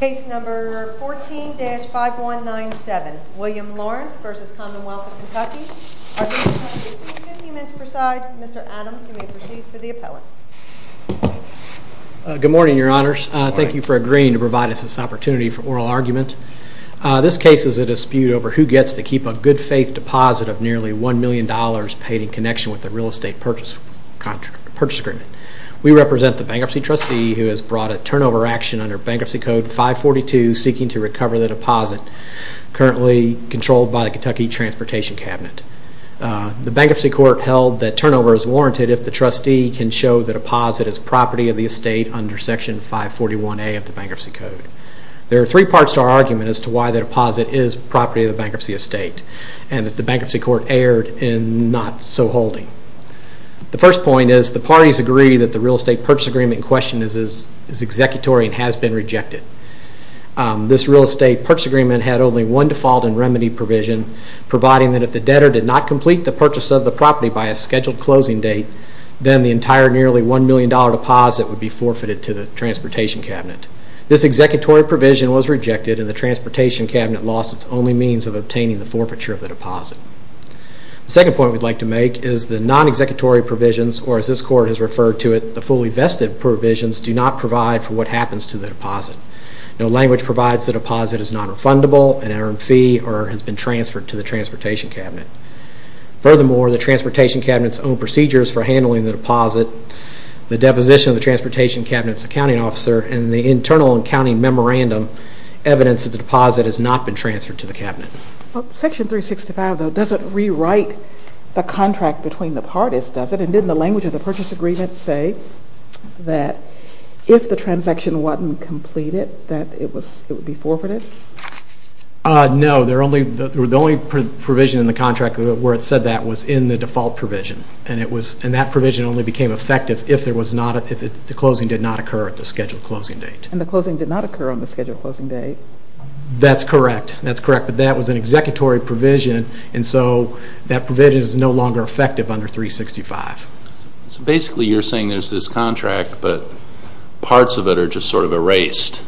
Case number 14-5197, William Lawrence v. Commonwealth of Kentucky. Our meeting time is 15 minutes per side. Mr. Adams, you may proceed for the appellate. Good morning, Your Honors. Thank you for agreeing to provide us this opportunity for oral argument. This case is a dispute over who gets to keep a good-faith deposit of nearly $1 million paid in connection with the real estate purchase agreement. We represent the bankruptcy trustee who has brought a turnover action under Bankruptcy Code 542 seeking to recover the deposit currently controlled by the Kentucky Transportation Cabinet. The bankruptcy court held that turnover is warranted if the trustee can show the deposit as property of the estate under Section 541A of the Bankruptcy Code. There are three parts to our argument as to why the deposit is property of the bankruptcy estate and that the bankruptcy court erred in not so holding. The first point is the parties agree that the real estate purchase agreement in question is executory and has been rejected. This real estate purchase agreement had only one default and remedy provision providing that if the debtor did not complete the purchase of the property by a scheduled closing date then the entire nearly $1 million deposit would be forfeited to the Transportation Cabinet. This executory provision was rejected and the Transportation Cabinet lost its only means of obtaining the forfeiture of the deposit. The second point we would like to make is the non-executory provisions or as this court has referred to it, the fully vested provisions do not provide for what happens to the deposit. No language provides the deposit is not refundable, an earned fee or has been transferred to the Transportation Cabinet. Furthermore, the Transportation Cabinet's own procedures for handling the deposit, the deposition of the Transportation Cabinet's accounting officer and the internal accounting memorandum evidence that the deposit has not been transferred to the Cabinet. Section 365, though, doesn't rewrite the contract between the parties, does it? And didn't the language of the purchase agreement say that if the transaction wasn't completed that it would be forfeited? No, the only provision in the contract where it said that was in the default provision and that provision only became effective if the closing did not occur at the scheduled closing date. And the closing did not occur on the scheduled closing date. That's correct, but that was an executory provision and so that provision is no longer effective under 365. So basically you're saying there's this contract but parts of it are just sort of erased.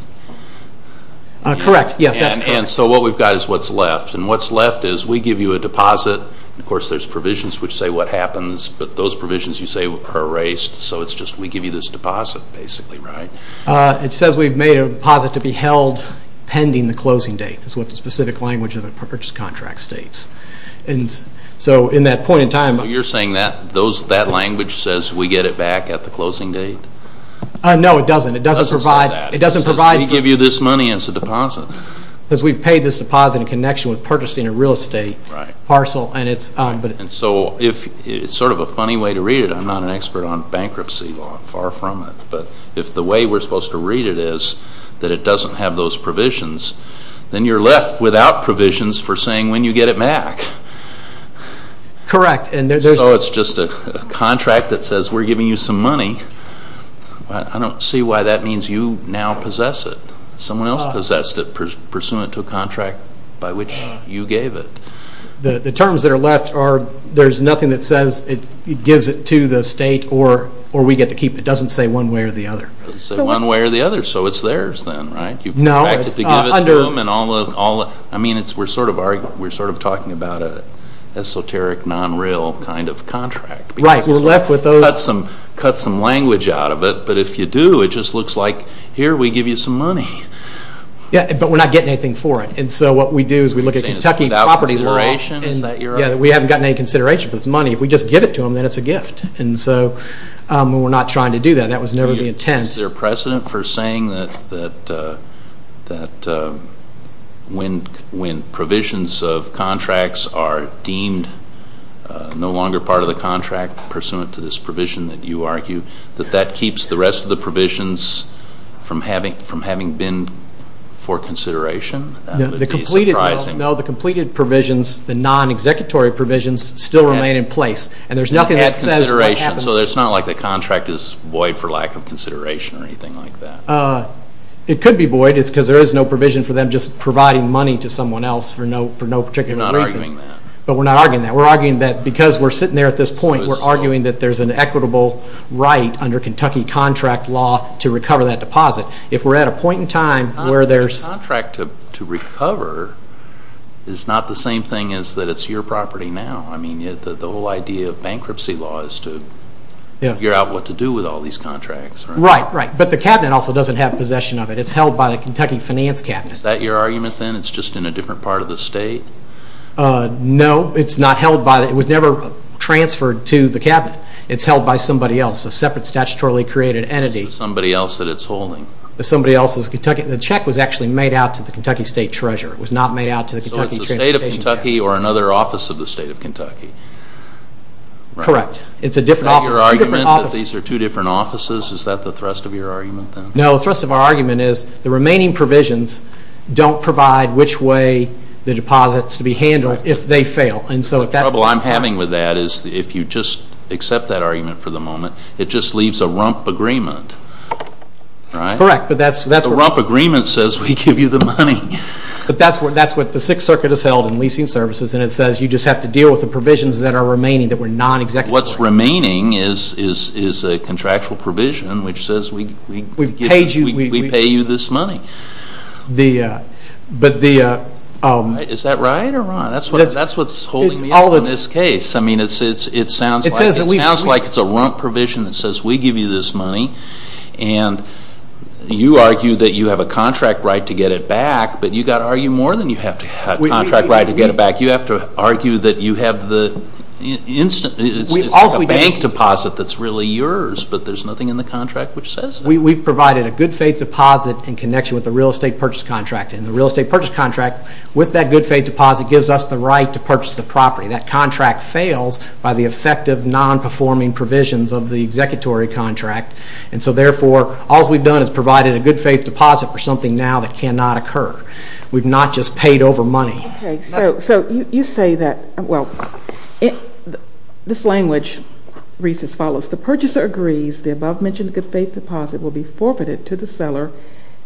Correct, yes, that's correct. And so what we've got is what's left and what's left is we give you a deposit and of course there's provisions which say what happens, but those provisions you say are erased so it's just we give you this deposit basically, right? It says we've made a deposit to be held pending the closing date is what the specific language of the purchase contract states. So in that point in time... So you're saying that language says we get it back at the closing date? No, it doesn't. It doesn't say that. It says we give you this money as a deposit. It says we've paid this deposit in connection with purchasing a real estate parcel. And so it's sort of a funny way to read it. I'm not an expert on bankruptcy law. I'm far from it. But if the way we're supposed to read it is that it doesn't have those provisions, then you're left without provisions for saying when you get it back. Correct. So it's just a contract that says we're giving you some money. I don't see why that means you now possess it. Someone else possessed it pursuant to a contract by which you gave it. The terms that are left are there's nothing that says it gives it to the state or we get to keep it. It doesn't say one way or the other. It doesn't say one way or the other. So it's theirs then, right? No, it's under... I mean, we're sort of talking about an esoteric, non-real kind of contract. Right. We're left with those... Cut some language out of it. But if you do, it just looks like here we give you some money. Yeah, but we're not getting anything for it. And so what we do is we look at Kentucky property law. Is that your argument? Yeah, we haven't gotten any consideration for this money. If we just give it to them, then it's a gift. And so we're not trying to do that. That was never the intent. Is there precedent for saying that when provisions of contracts are deemed no longer part of the contract pursuant to this provision that you argue, that that keeps the rest of the provisions from having been for consideration? That would be surprising. No, the completed provisions, the non-executory provisions, still remain in place. And there's nothing that says what happens... So it's not like the contract is void for lack of consideration or anything like that. It could be void because there is no provision for them just providing money to someone else for no particular reason. We're not arguing that. But we're not arguing that. We're arguing that because we're sitting there at this point, we're arguing that there's an equitable right under Kentucky contract law to recover that deposit. If we're at a point in time where there's... A contract to recover is not the same thing as that it's your property now. I mean, the whole idea of bankruptcy law is to figure out what to do with all these contracts. Right, right. But the cabinet also doesn't have possession of it. It's held by the Kentucky Finance Cabinet. Is that your argument then? It's just in a different part of the state? No, it's not held by... It was never transferred to the cabinet. It's held by somebody else, a separate statutorily created entity. Somebody else that it's holding. Somebody else's Kentucky... The check was actually made out to the Kentucky State Treasurer. It was not made out to the Kentucky... The state of Kentucky or another office of the state of Kentucky? Correct. It's a different office. Is that your argument that these are two different offices? Is that the thrust of your argument then? No, the thrust of our argument is the remaining provisions don't provide which way the deposits will be handled if they fail. The trouble I'm having with that is if you just accept that argument for the moment, it just leaves a rump agreement, right? Correct, but that's... The rump agreement says we give you the money. That's what the Sixth Circuit has held in leasing services and it says you just have to deal with the provisions that are remaining, that were non-executable. What's remaining is a contractual provision which says we pay you this money. Is that right or wrong? That's what's holding me up in this case. It sounds like it's a rump provision that says we give you this money and you argue that you have a contract right to get it back, but you've got to argue more than you have to have a contract right to get it back. You have to argue that you have the instant... It's like a bank deposit that's really yours, but there's nothing in the contract which says that. We've provided a good-faith deposit in connection with the real estate purchase contract, and the real estate purchase contract, with that good-faith deposit, gives us the right to purchase the property. That contract fails by the effective non-performing provisions of the executory contract, and so therefore all we've done is provided a good-faith deposit for something now that cannot occur. We've not just paid over money. Okay, so you say that, well, this language reads as follows. The purchaser agrees the above-mentioned good-faith deposit will be forfeited to the seller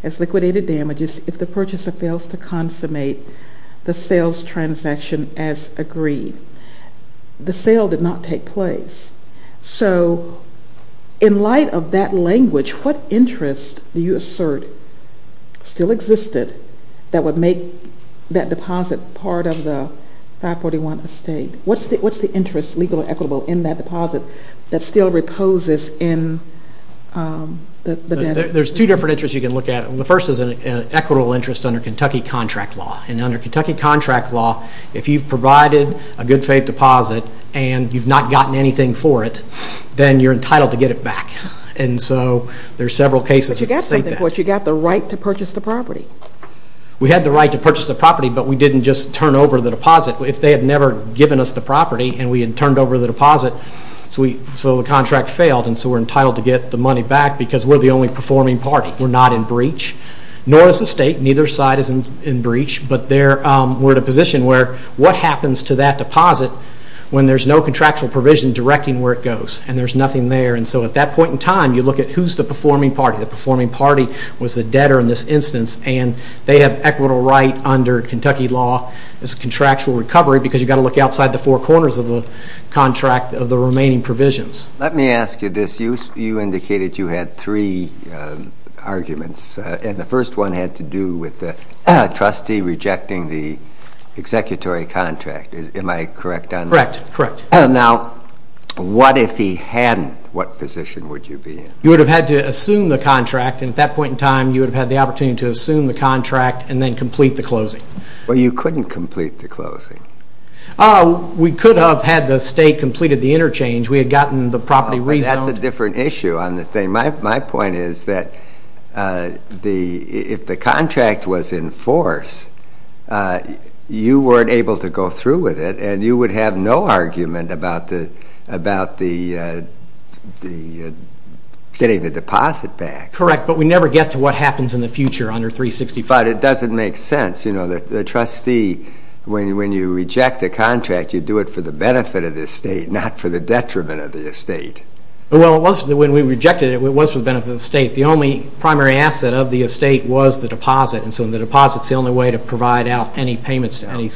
as liquidated damages if the purchaser fails to consummate the sales transaction as agreed. The sale did not take place. So in light of that language, what interest do you assert still existed that would make that deposit part of the 541 estate? What's the interest, legal or equitable, in that deposit that still reposes in the... There's two different interests you can look at. The first is an equitable interest under Kentucky contract law, and under Kentucky contract law, if you've provided a good-faith deposit and you've not gotten anything for it, then you're entitled to get it back. And so there are several cases that state that. But you've got something for it. You've got the right to purchase the property. We had the right to purchase the property, but we didn't just turn over the deposit. If they had never given us the property and we had turned over the deposit, so the contract failed, and so we're entitled to get the money back because we're the only performing party. We're not in breach, nor is the state. Neither side is in breach. But we're in a position where what happens to that deposit when there's no contractual provision directing where it goes and there's nothing there. And so at that point in time, you look at who's the performing party. The performing party was the debtor in this instance, and they have equitable right under Kentucky law as contractual recovery because you've got to look outside the four corners of the contract of the remaining provisions. Let me ask you this. You indicated you had three arguments, and the first one had to do with the trustee rejecting the executory contract. Am I correct on that? Correct, correct. Now, what if he hadn't? What position would you be in? You would have had to assume the contract, and at that point in time you would have had the opportunity to assume the contract and then complete the closing. But you couldn't complete the closing. We could have had the state completed the interchange. We had gotten the property rezoned. That's a different issue on the thing. My point is that if the contract was in force, you weren't able to go through with it, and you would have no argument about getting the deposit back. Correct, but we never get to what happens in the future under 365. But it doesn't make sense. The trustee, when you reject a contract, you do it for the benefit of the state, not for the detriment of the state. Well, when we rejected it, it was for the benefit of the state. The only primary asset of the estate was the deposit, and so the deposit is the only way to provide out any payments to any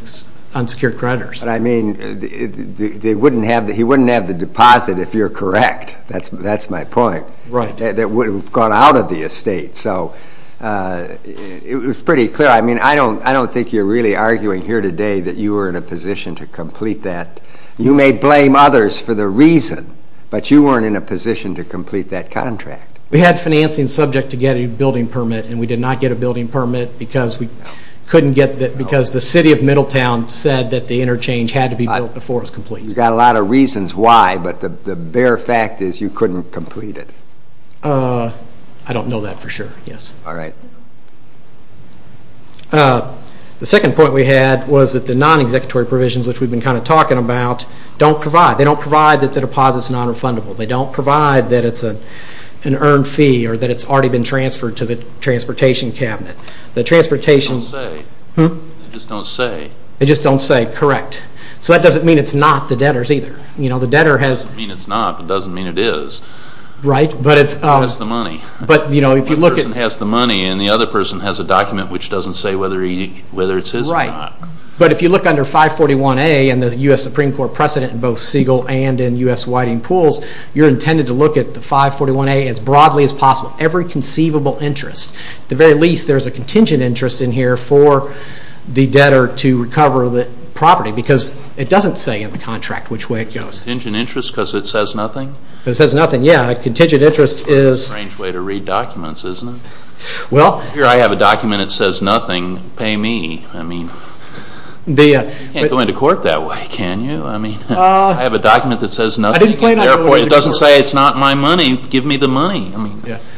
unsecured creditors. I mean, he wouldn't have the deposit if you're correct. That's my point. Right. It would have gone out of the estate. So it was pretty clear. I mean, I don't think you're really arguing here today that you were in a position to complete that. You may blame others for the reason, but you weren't in a position to complete that contract. We had financing subject to get a building permit, and we did not get a building permit because the city of Middletown said that the interchange had to be built before it was completed. You've got a lot of reasons why, but the bare fact is you couldn't complete it. I don't know that for sure, yes. All right. The second point we had was that the non-executory provisions, which we've been kind of talking about, don't provide. They don't provide that the deposit is non-refundable. They don't provide that it's an earned fee or that it's already been transferred to the transportation cabinet. They just don't say. They just don't say. Correct. So that doesn't mean it's not the debtors either. It doesn't mean it's not, but it doesn't mean it is. Right. It's just the money. One person has the money, and the other person has a document which doesn't say whether it's his or not. Right. But if you look under 541A and the U.S. Supreme Court precedent in both Siegel and in U.S. Whiting Pools, you're intended to look at the 541A as broadly as possible, every conceivable interest. At the very least, there's a contingent interest in here for the debtor to recover the property because it doesn't say in the contract which way it goes. Contingent interest because it says nothing? Because it says nothing, yeah. Contingent interest is A strange way to read documents, isn't it? Well Here I have a document that says nothing. Pay me. I mean, you can't go into court that way, can you? I mean, I have a document that says nothing. Therefore, it doesn't say it's not my money. Give me the money.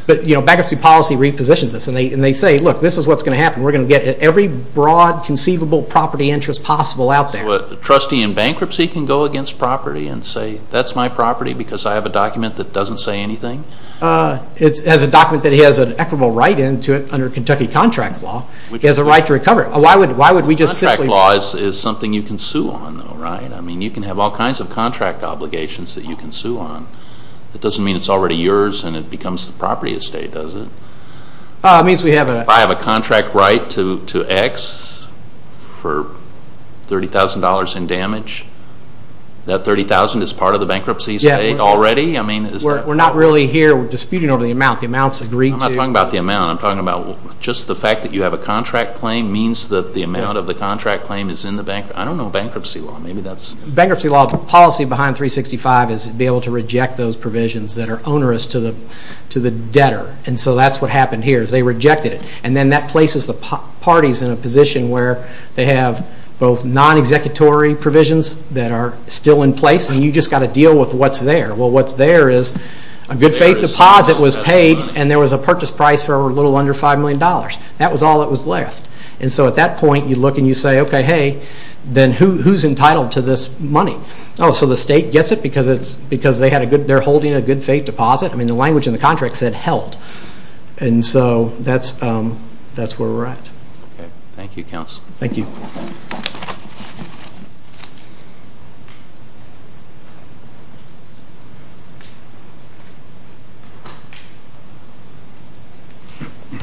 But bankruptcy policy repositions this, and they say, look, this is what's going to happen. We're going to get every broad conceivable property interest possible out there. So a trustee in bankruptcy can go against property and say, that's my property because I have a document that doesn't say anything? It has a document that he has an equitable right in under Kentucky contract law. He has a right to recover it. Why would we just simply Contract law is something you can sue on, though, right? I mean, you can have all kinds of contract obligations that you can sue on. It doesn't mean it's already yours and it becomes the property estate, does it? It means we have a I have a contract right to X for $30,000 in damage. That $30,000 is part of the bankruptcy estate already? We're not really here disputing over the amount. The amount's agreed to. I'm not talking about the amount. I'm talking about just the fact that you have a contract claim means that the amount of the contract claim is in the bank. I don't know bankruptcy law. Bankruptcy law, the policy behind 365 is to be able to reject those provisions that are onerous to the debtor. And so that's what happened here is they rejected it. And then that places the parties in a position where they have both non-executory provisions that are still in place, and you've just got to deal with what's there. Well, what's there is a good faith deposit was paid and there was a purchase price for a little under $5 million. That was all that was left. And so at that point, you look and you say, okay, hey, then who's entitled to this money? Oh, so the state gets it because they're holding a good faith deposit? I mean the language in the contract said held. And so that's where we're at. Okay. Thank you, Counsel. Thank you.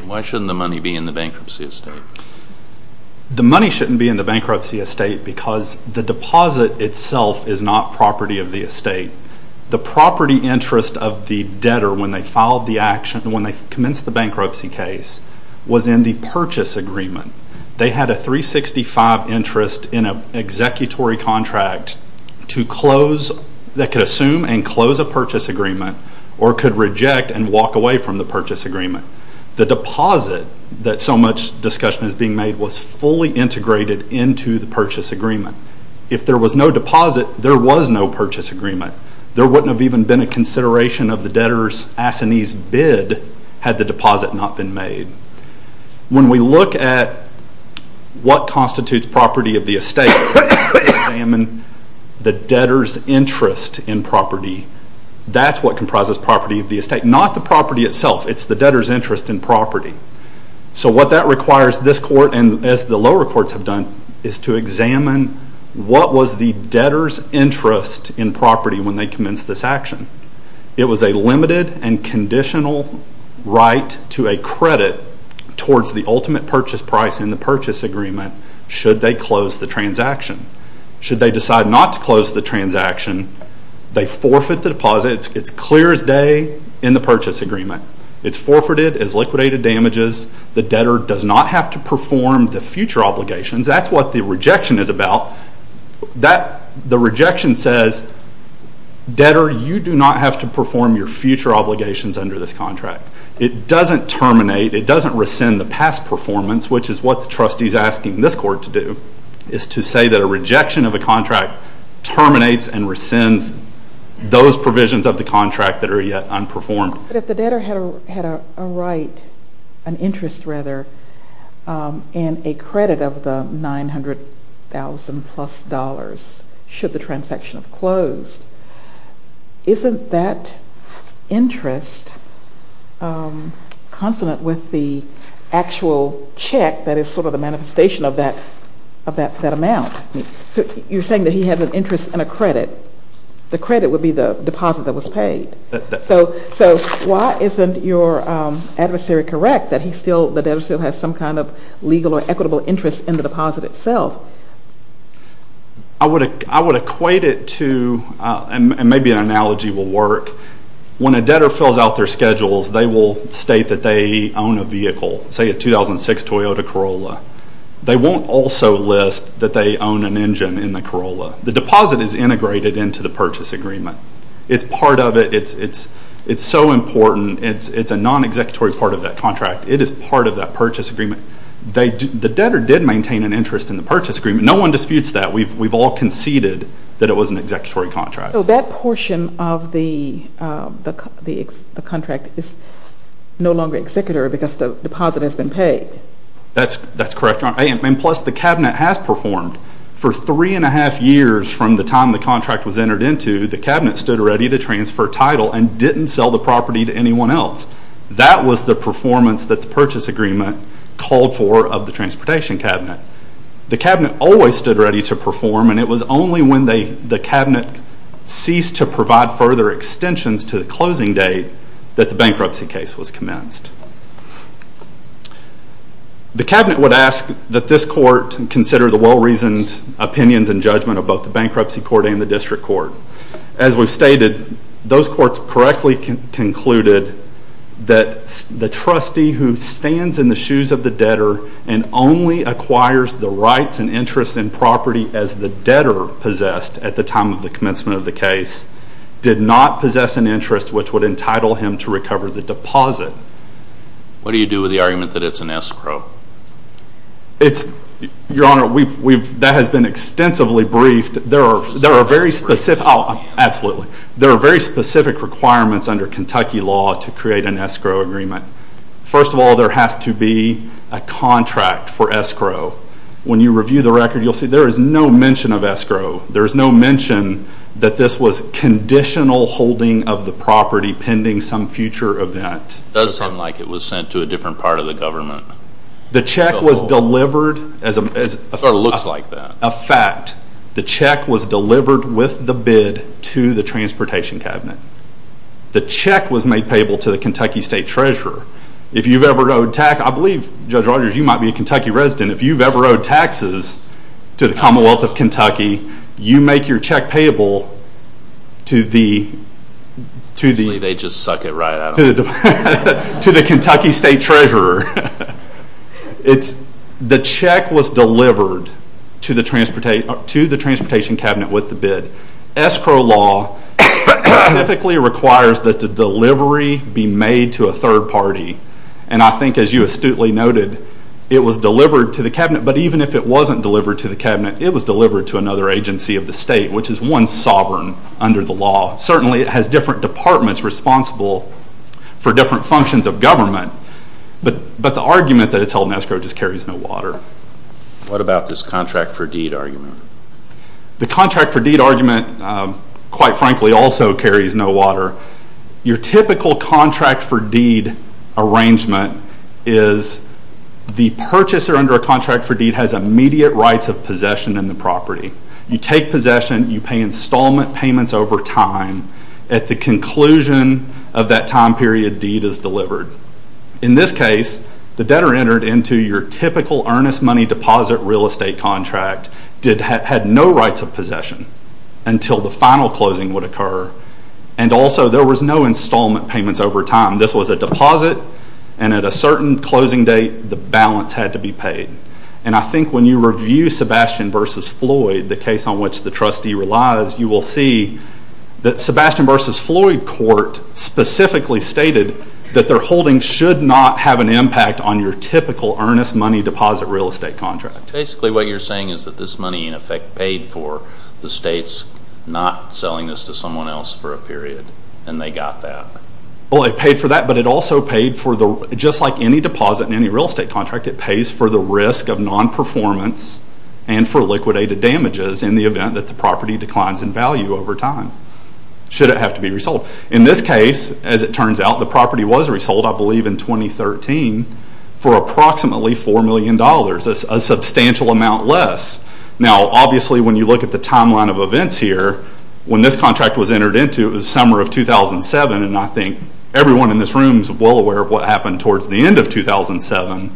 Why shouldn't the money be in the bankruptcy estate? The money shouldn't be in the bankruptcy estate because the deposit itself is not property of the estate. The property interest of the debtor when they filed the action, when they commenced the bankruptcy case, was in the purchase agreement. They had a 365 interest in an executory contract that could assume and close a purchase agreement or could reject and walk away from the purchase agreement. The deposit that so much discussion is being made was fully integrated into the purchase agreement. If there was no deposit, there was no purchase agreement. There wouldn't have even been a consideration of the debtor's assinee's bid had the deposit not been made. When we look at what constitutes property of the estate and examine the debtor's interest in property, that's what comprises property of the estate, not the property itself. What that requires this court, and as the lower courts have done, is to examine what was the debtor's interest in property when they commenced this action. It was a limited and conditional right to a credit towards the ultimate purchase price in the purchase agreement should they close the transaction. Should they decide not to close the transaction, they forfeit the deposit. It's clear as day in the purchase agreement. It's forfeited as liquidated damages. The debtor does not have to perform the future obligations. That's what the rejection is about. The rejection says, debtor, you do not have to perform your future obligations under this contract. It doesn't terminate. It doesn't rescind the past performance, which is what the trustee is asking this court to do, is to say that a rejection of a contract terminates and rescinds those provisions of the contract that are yet unperformed. But if the debtor had a right, an interest rather, in a credit of the $900,000-plus should the transaction have closed, isn't that interest consonant with the actual check that is sort of the manifestation of that amount? You're saying that he has an interest in a credit. The credit would be the deposit that was paid. So why isn't your adversary correct that the debtor still has some kind of legal or equitable interest in the deposit itself? I would equate it to, and maybe an analogy will work, when a debtor fills out their schedules, they will state that they own a vehicle, say a 2006 Toyota Corolla. They won't also list that they own an engine in the Corolla. The deposit is integrated into the purchase agreement. It's part of it. It's so important. It's a non-executory part of that contract. It is part of that purchase agreement. The debtor did maintain an interest in the purchase agreement. No one disputes that. We've all conceded that it was an executory contract. So that portion of the contract is no longer executory because the deposit has been paid. That's correct, Your Honor. Plus, the Cabinet has performed. For three and a half years from the time the contract was entered into, the Cabinet stood ready to transfer title and didn't sell the property to anyone else. That was the performance that the purchase agreement called for of the Transportation Cabinet. The Cabinet always stood ready to perform, and it was only when the Cabinet ceased to provide further extensions to the closing date that the bankruptcy case was commenced. The Cabinet would ask that this court consider the well-reasoned opinions and judgment of both the Bankruptcy Court and the District Court. As we've stated, those courts correctly concluded that the trustee who stands in the shoes of the debtor and only acquires the rights and interests in property as the debtor possessed at the time of the commencement of the case did not possess an interest which would entitle him to recover the deposit. What do you do with the argument that it's an escrow? Your Honor, that has been extensively briefed. There are very specific requirements under Kentucky law to create an escrow agreement. First of all, there has to be a contract for escrow. When you review the record, you'll see there is no mention of escrow. There's no mention that this was conditional holding of the property pending some future event. It does sound like it was sent to a different part of the government. The check was delivered as a fact. The check was delivered with the bid to the Transportation Cabinet. The check was made payable to the Kentucky State Treasurer. If you've ever owed taxes, I believe, Judge Rogers, you might be a Kentucky resident, if you've ever owed taxes to the Commonwealth of Kentucky, you make your check payable to the Kentucky State Treasurer. The check was delivered to the Transportation Cabinet with the bid. Escrow law specifically requires that the delivery be made to a third party. I think, as you astutely noted, it was delivered to the Cabinet, but even if it wasn't delivered to the Cabinet, it was delivered to another agency of the state, which is one sovereign under the law. Certainly, it has different departments responsible for different functions of government, but the argument that it's held in escrow just carries no water. What about this contract for deed argument? The contract for deed argument, quite frankly, also carries no water. Your typical contract for deed arrangement is the purchaser under a contract for deed has immediate rights of possession in the property. You take possession. You pay installment payments over time. At the conclusion of that time period, deed is delivered. In this case, the debtor entered into your typical earnest money deposit real estate contract, had no rights of possession until the final closing would occur, and also there was no installment payments over time. This was a deposit, and at a certain closing date, the balance had to be paid. And I think when you review Sebastian v. Floyd, the case on which the trustee relies, you will see that Sebastian v. Floyd court specifically stated that their holding should not have an impact on your typical earnest money deposit real estate contract. Basically, what you're saying is that this money, in effect, paid for the states not selling this to someone else for a period, and they got that. Well, it paid for that, but it also paid for the, just like any deposit in any real estate contract, it pays for the risk of non-performance and for liquidated damages in the event that the property declines in value over time, should it have to be resold. In this case, as it turns out, the property was resold, I believe in 2013, for approximately $4 million, a substantial amount less. Now, obviously, when you look at the timeline of events here, when this contract was entered into, it was the summer of 2007, and I think everyone in this room is well aware of what happened towards the end of 2007,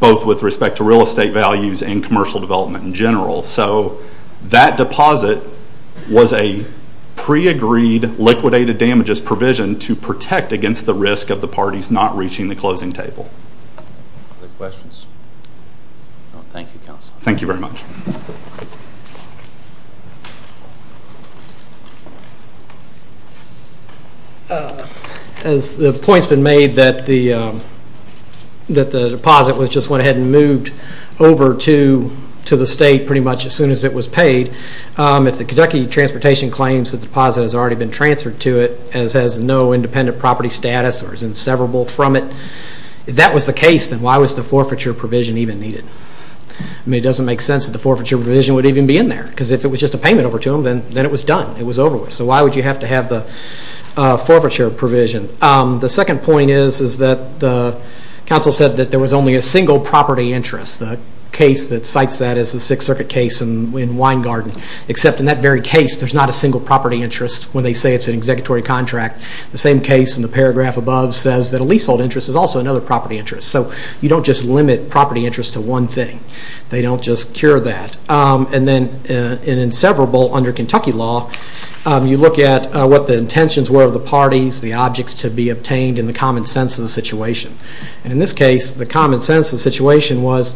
both with respect to real estate values and commercial development in general. So that deposit was a pre-agreed liquidated damages provision to protect against the risk of the parties not reaching the closing table. Any questions? Thank you, counsel. Thank you very much. The point's been made that the deposit was just went ahead and moved over to the state pretty much as soon as it was paid. If the Kentucky Transportation claims that the deposit has already been transferred to it, as has no independent property status, or is inseparable from it, if that was the case, then why was the forfeiture provision even needed? I mean, it doesn't make sense that the forfeiture provision would even be in there, because if it was just a payment over to them, then it was done, it was over with. So why would you have to have the forfeiture provision? The second point is that the counsel said that there was only a single property interest. The case that cites that is the Sixth Circuit case in Wine Garden, except in that very case, there's not a single property interest when they say it's an executory contract. The same case in the paragraph above says that a leasehold interest is also another property interest. So you don't just limit property interest to one thing. They don't just cure that. And then in inseparable under Kentucky law, you look at what the intentions were of the parties, the objects to be obtained, and the common sense of the situation. And in this case, the common sense of the situation was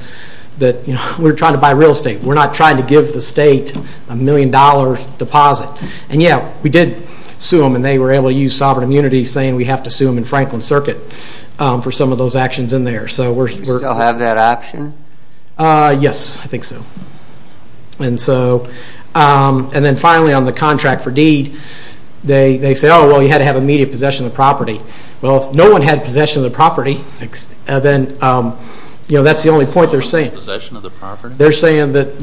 that we're trying to buy real estate. We're not trying to give the state a million-dollar deposit. And yeah, we did sue them, and they were able to use sovereign immunity, saying we have to sue them in Franklin Circuit for some of those actions in there. Do you still have that option? Yes, I think so. And then finally on the contract for deed, they say, oh, well, you had to have immediate possession of the property. Well, if no one had possession of the property, then that's the only point they're saying. They're saying that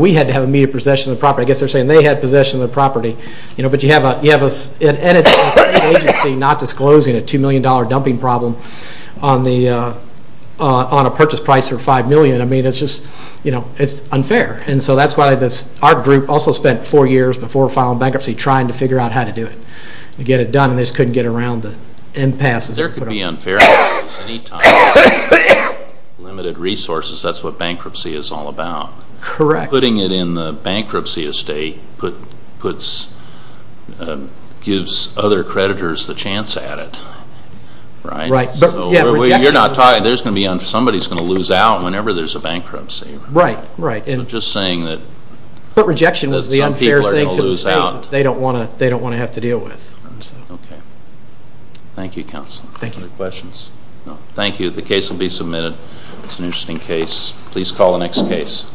we had to have immediate possession of the property. I guess they're saying they had possession of the property. But you have an entity, a state agency, not disclosing a $2 million dumping problem on a purchase price of $5 million. I mean, it's just unfair. And so that's why our group also spent four years before filing bankruptcy trying to figure out how to do it, to get it done, and they just couldn't get around the impasse. There could be unfair. Limited resources, that's what bankruptcy is all about. Correct. Putting it in the bankruptcy estate gives other creditors the chance at it, right? Right. You're not talking, somebody's going to lose out whenever there's a bankruptcy. Right, right. So just saying that some people are going to lose out. But rejection is the unfair thing to say that they don't want to have to deal with. Okay. Thank you, Counsel. Thank you. Any questions? No. Thank you. The case will be submitted. It's an interesting case. Please call the next case.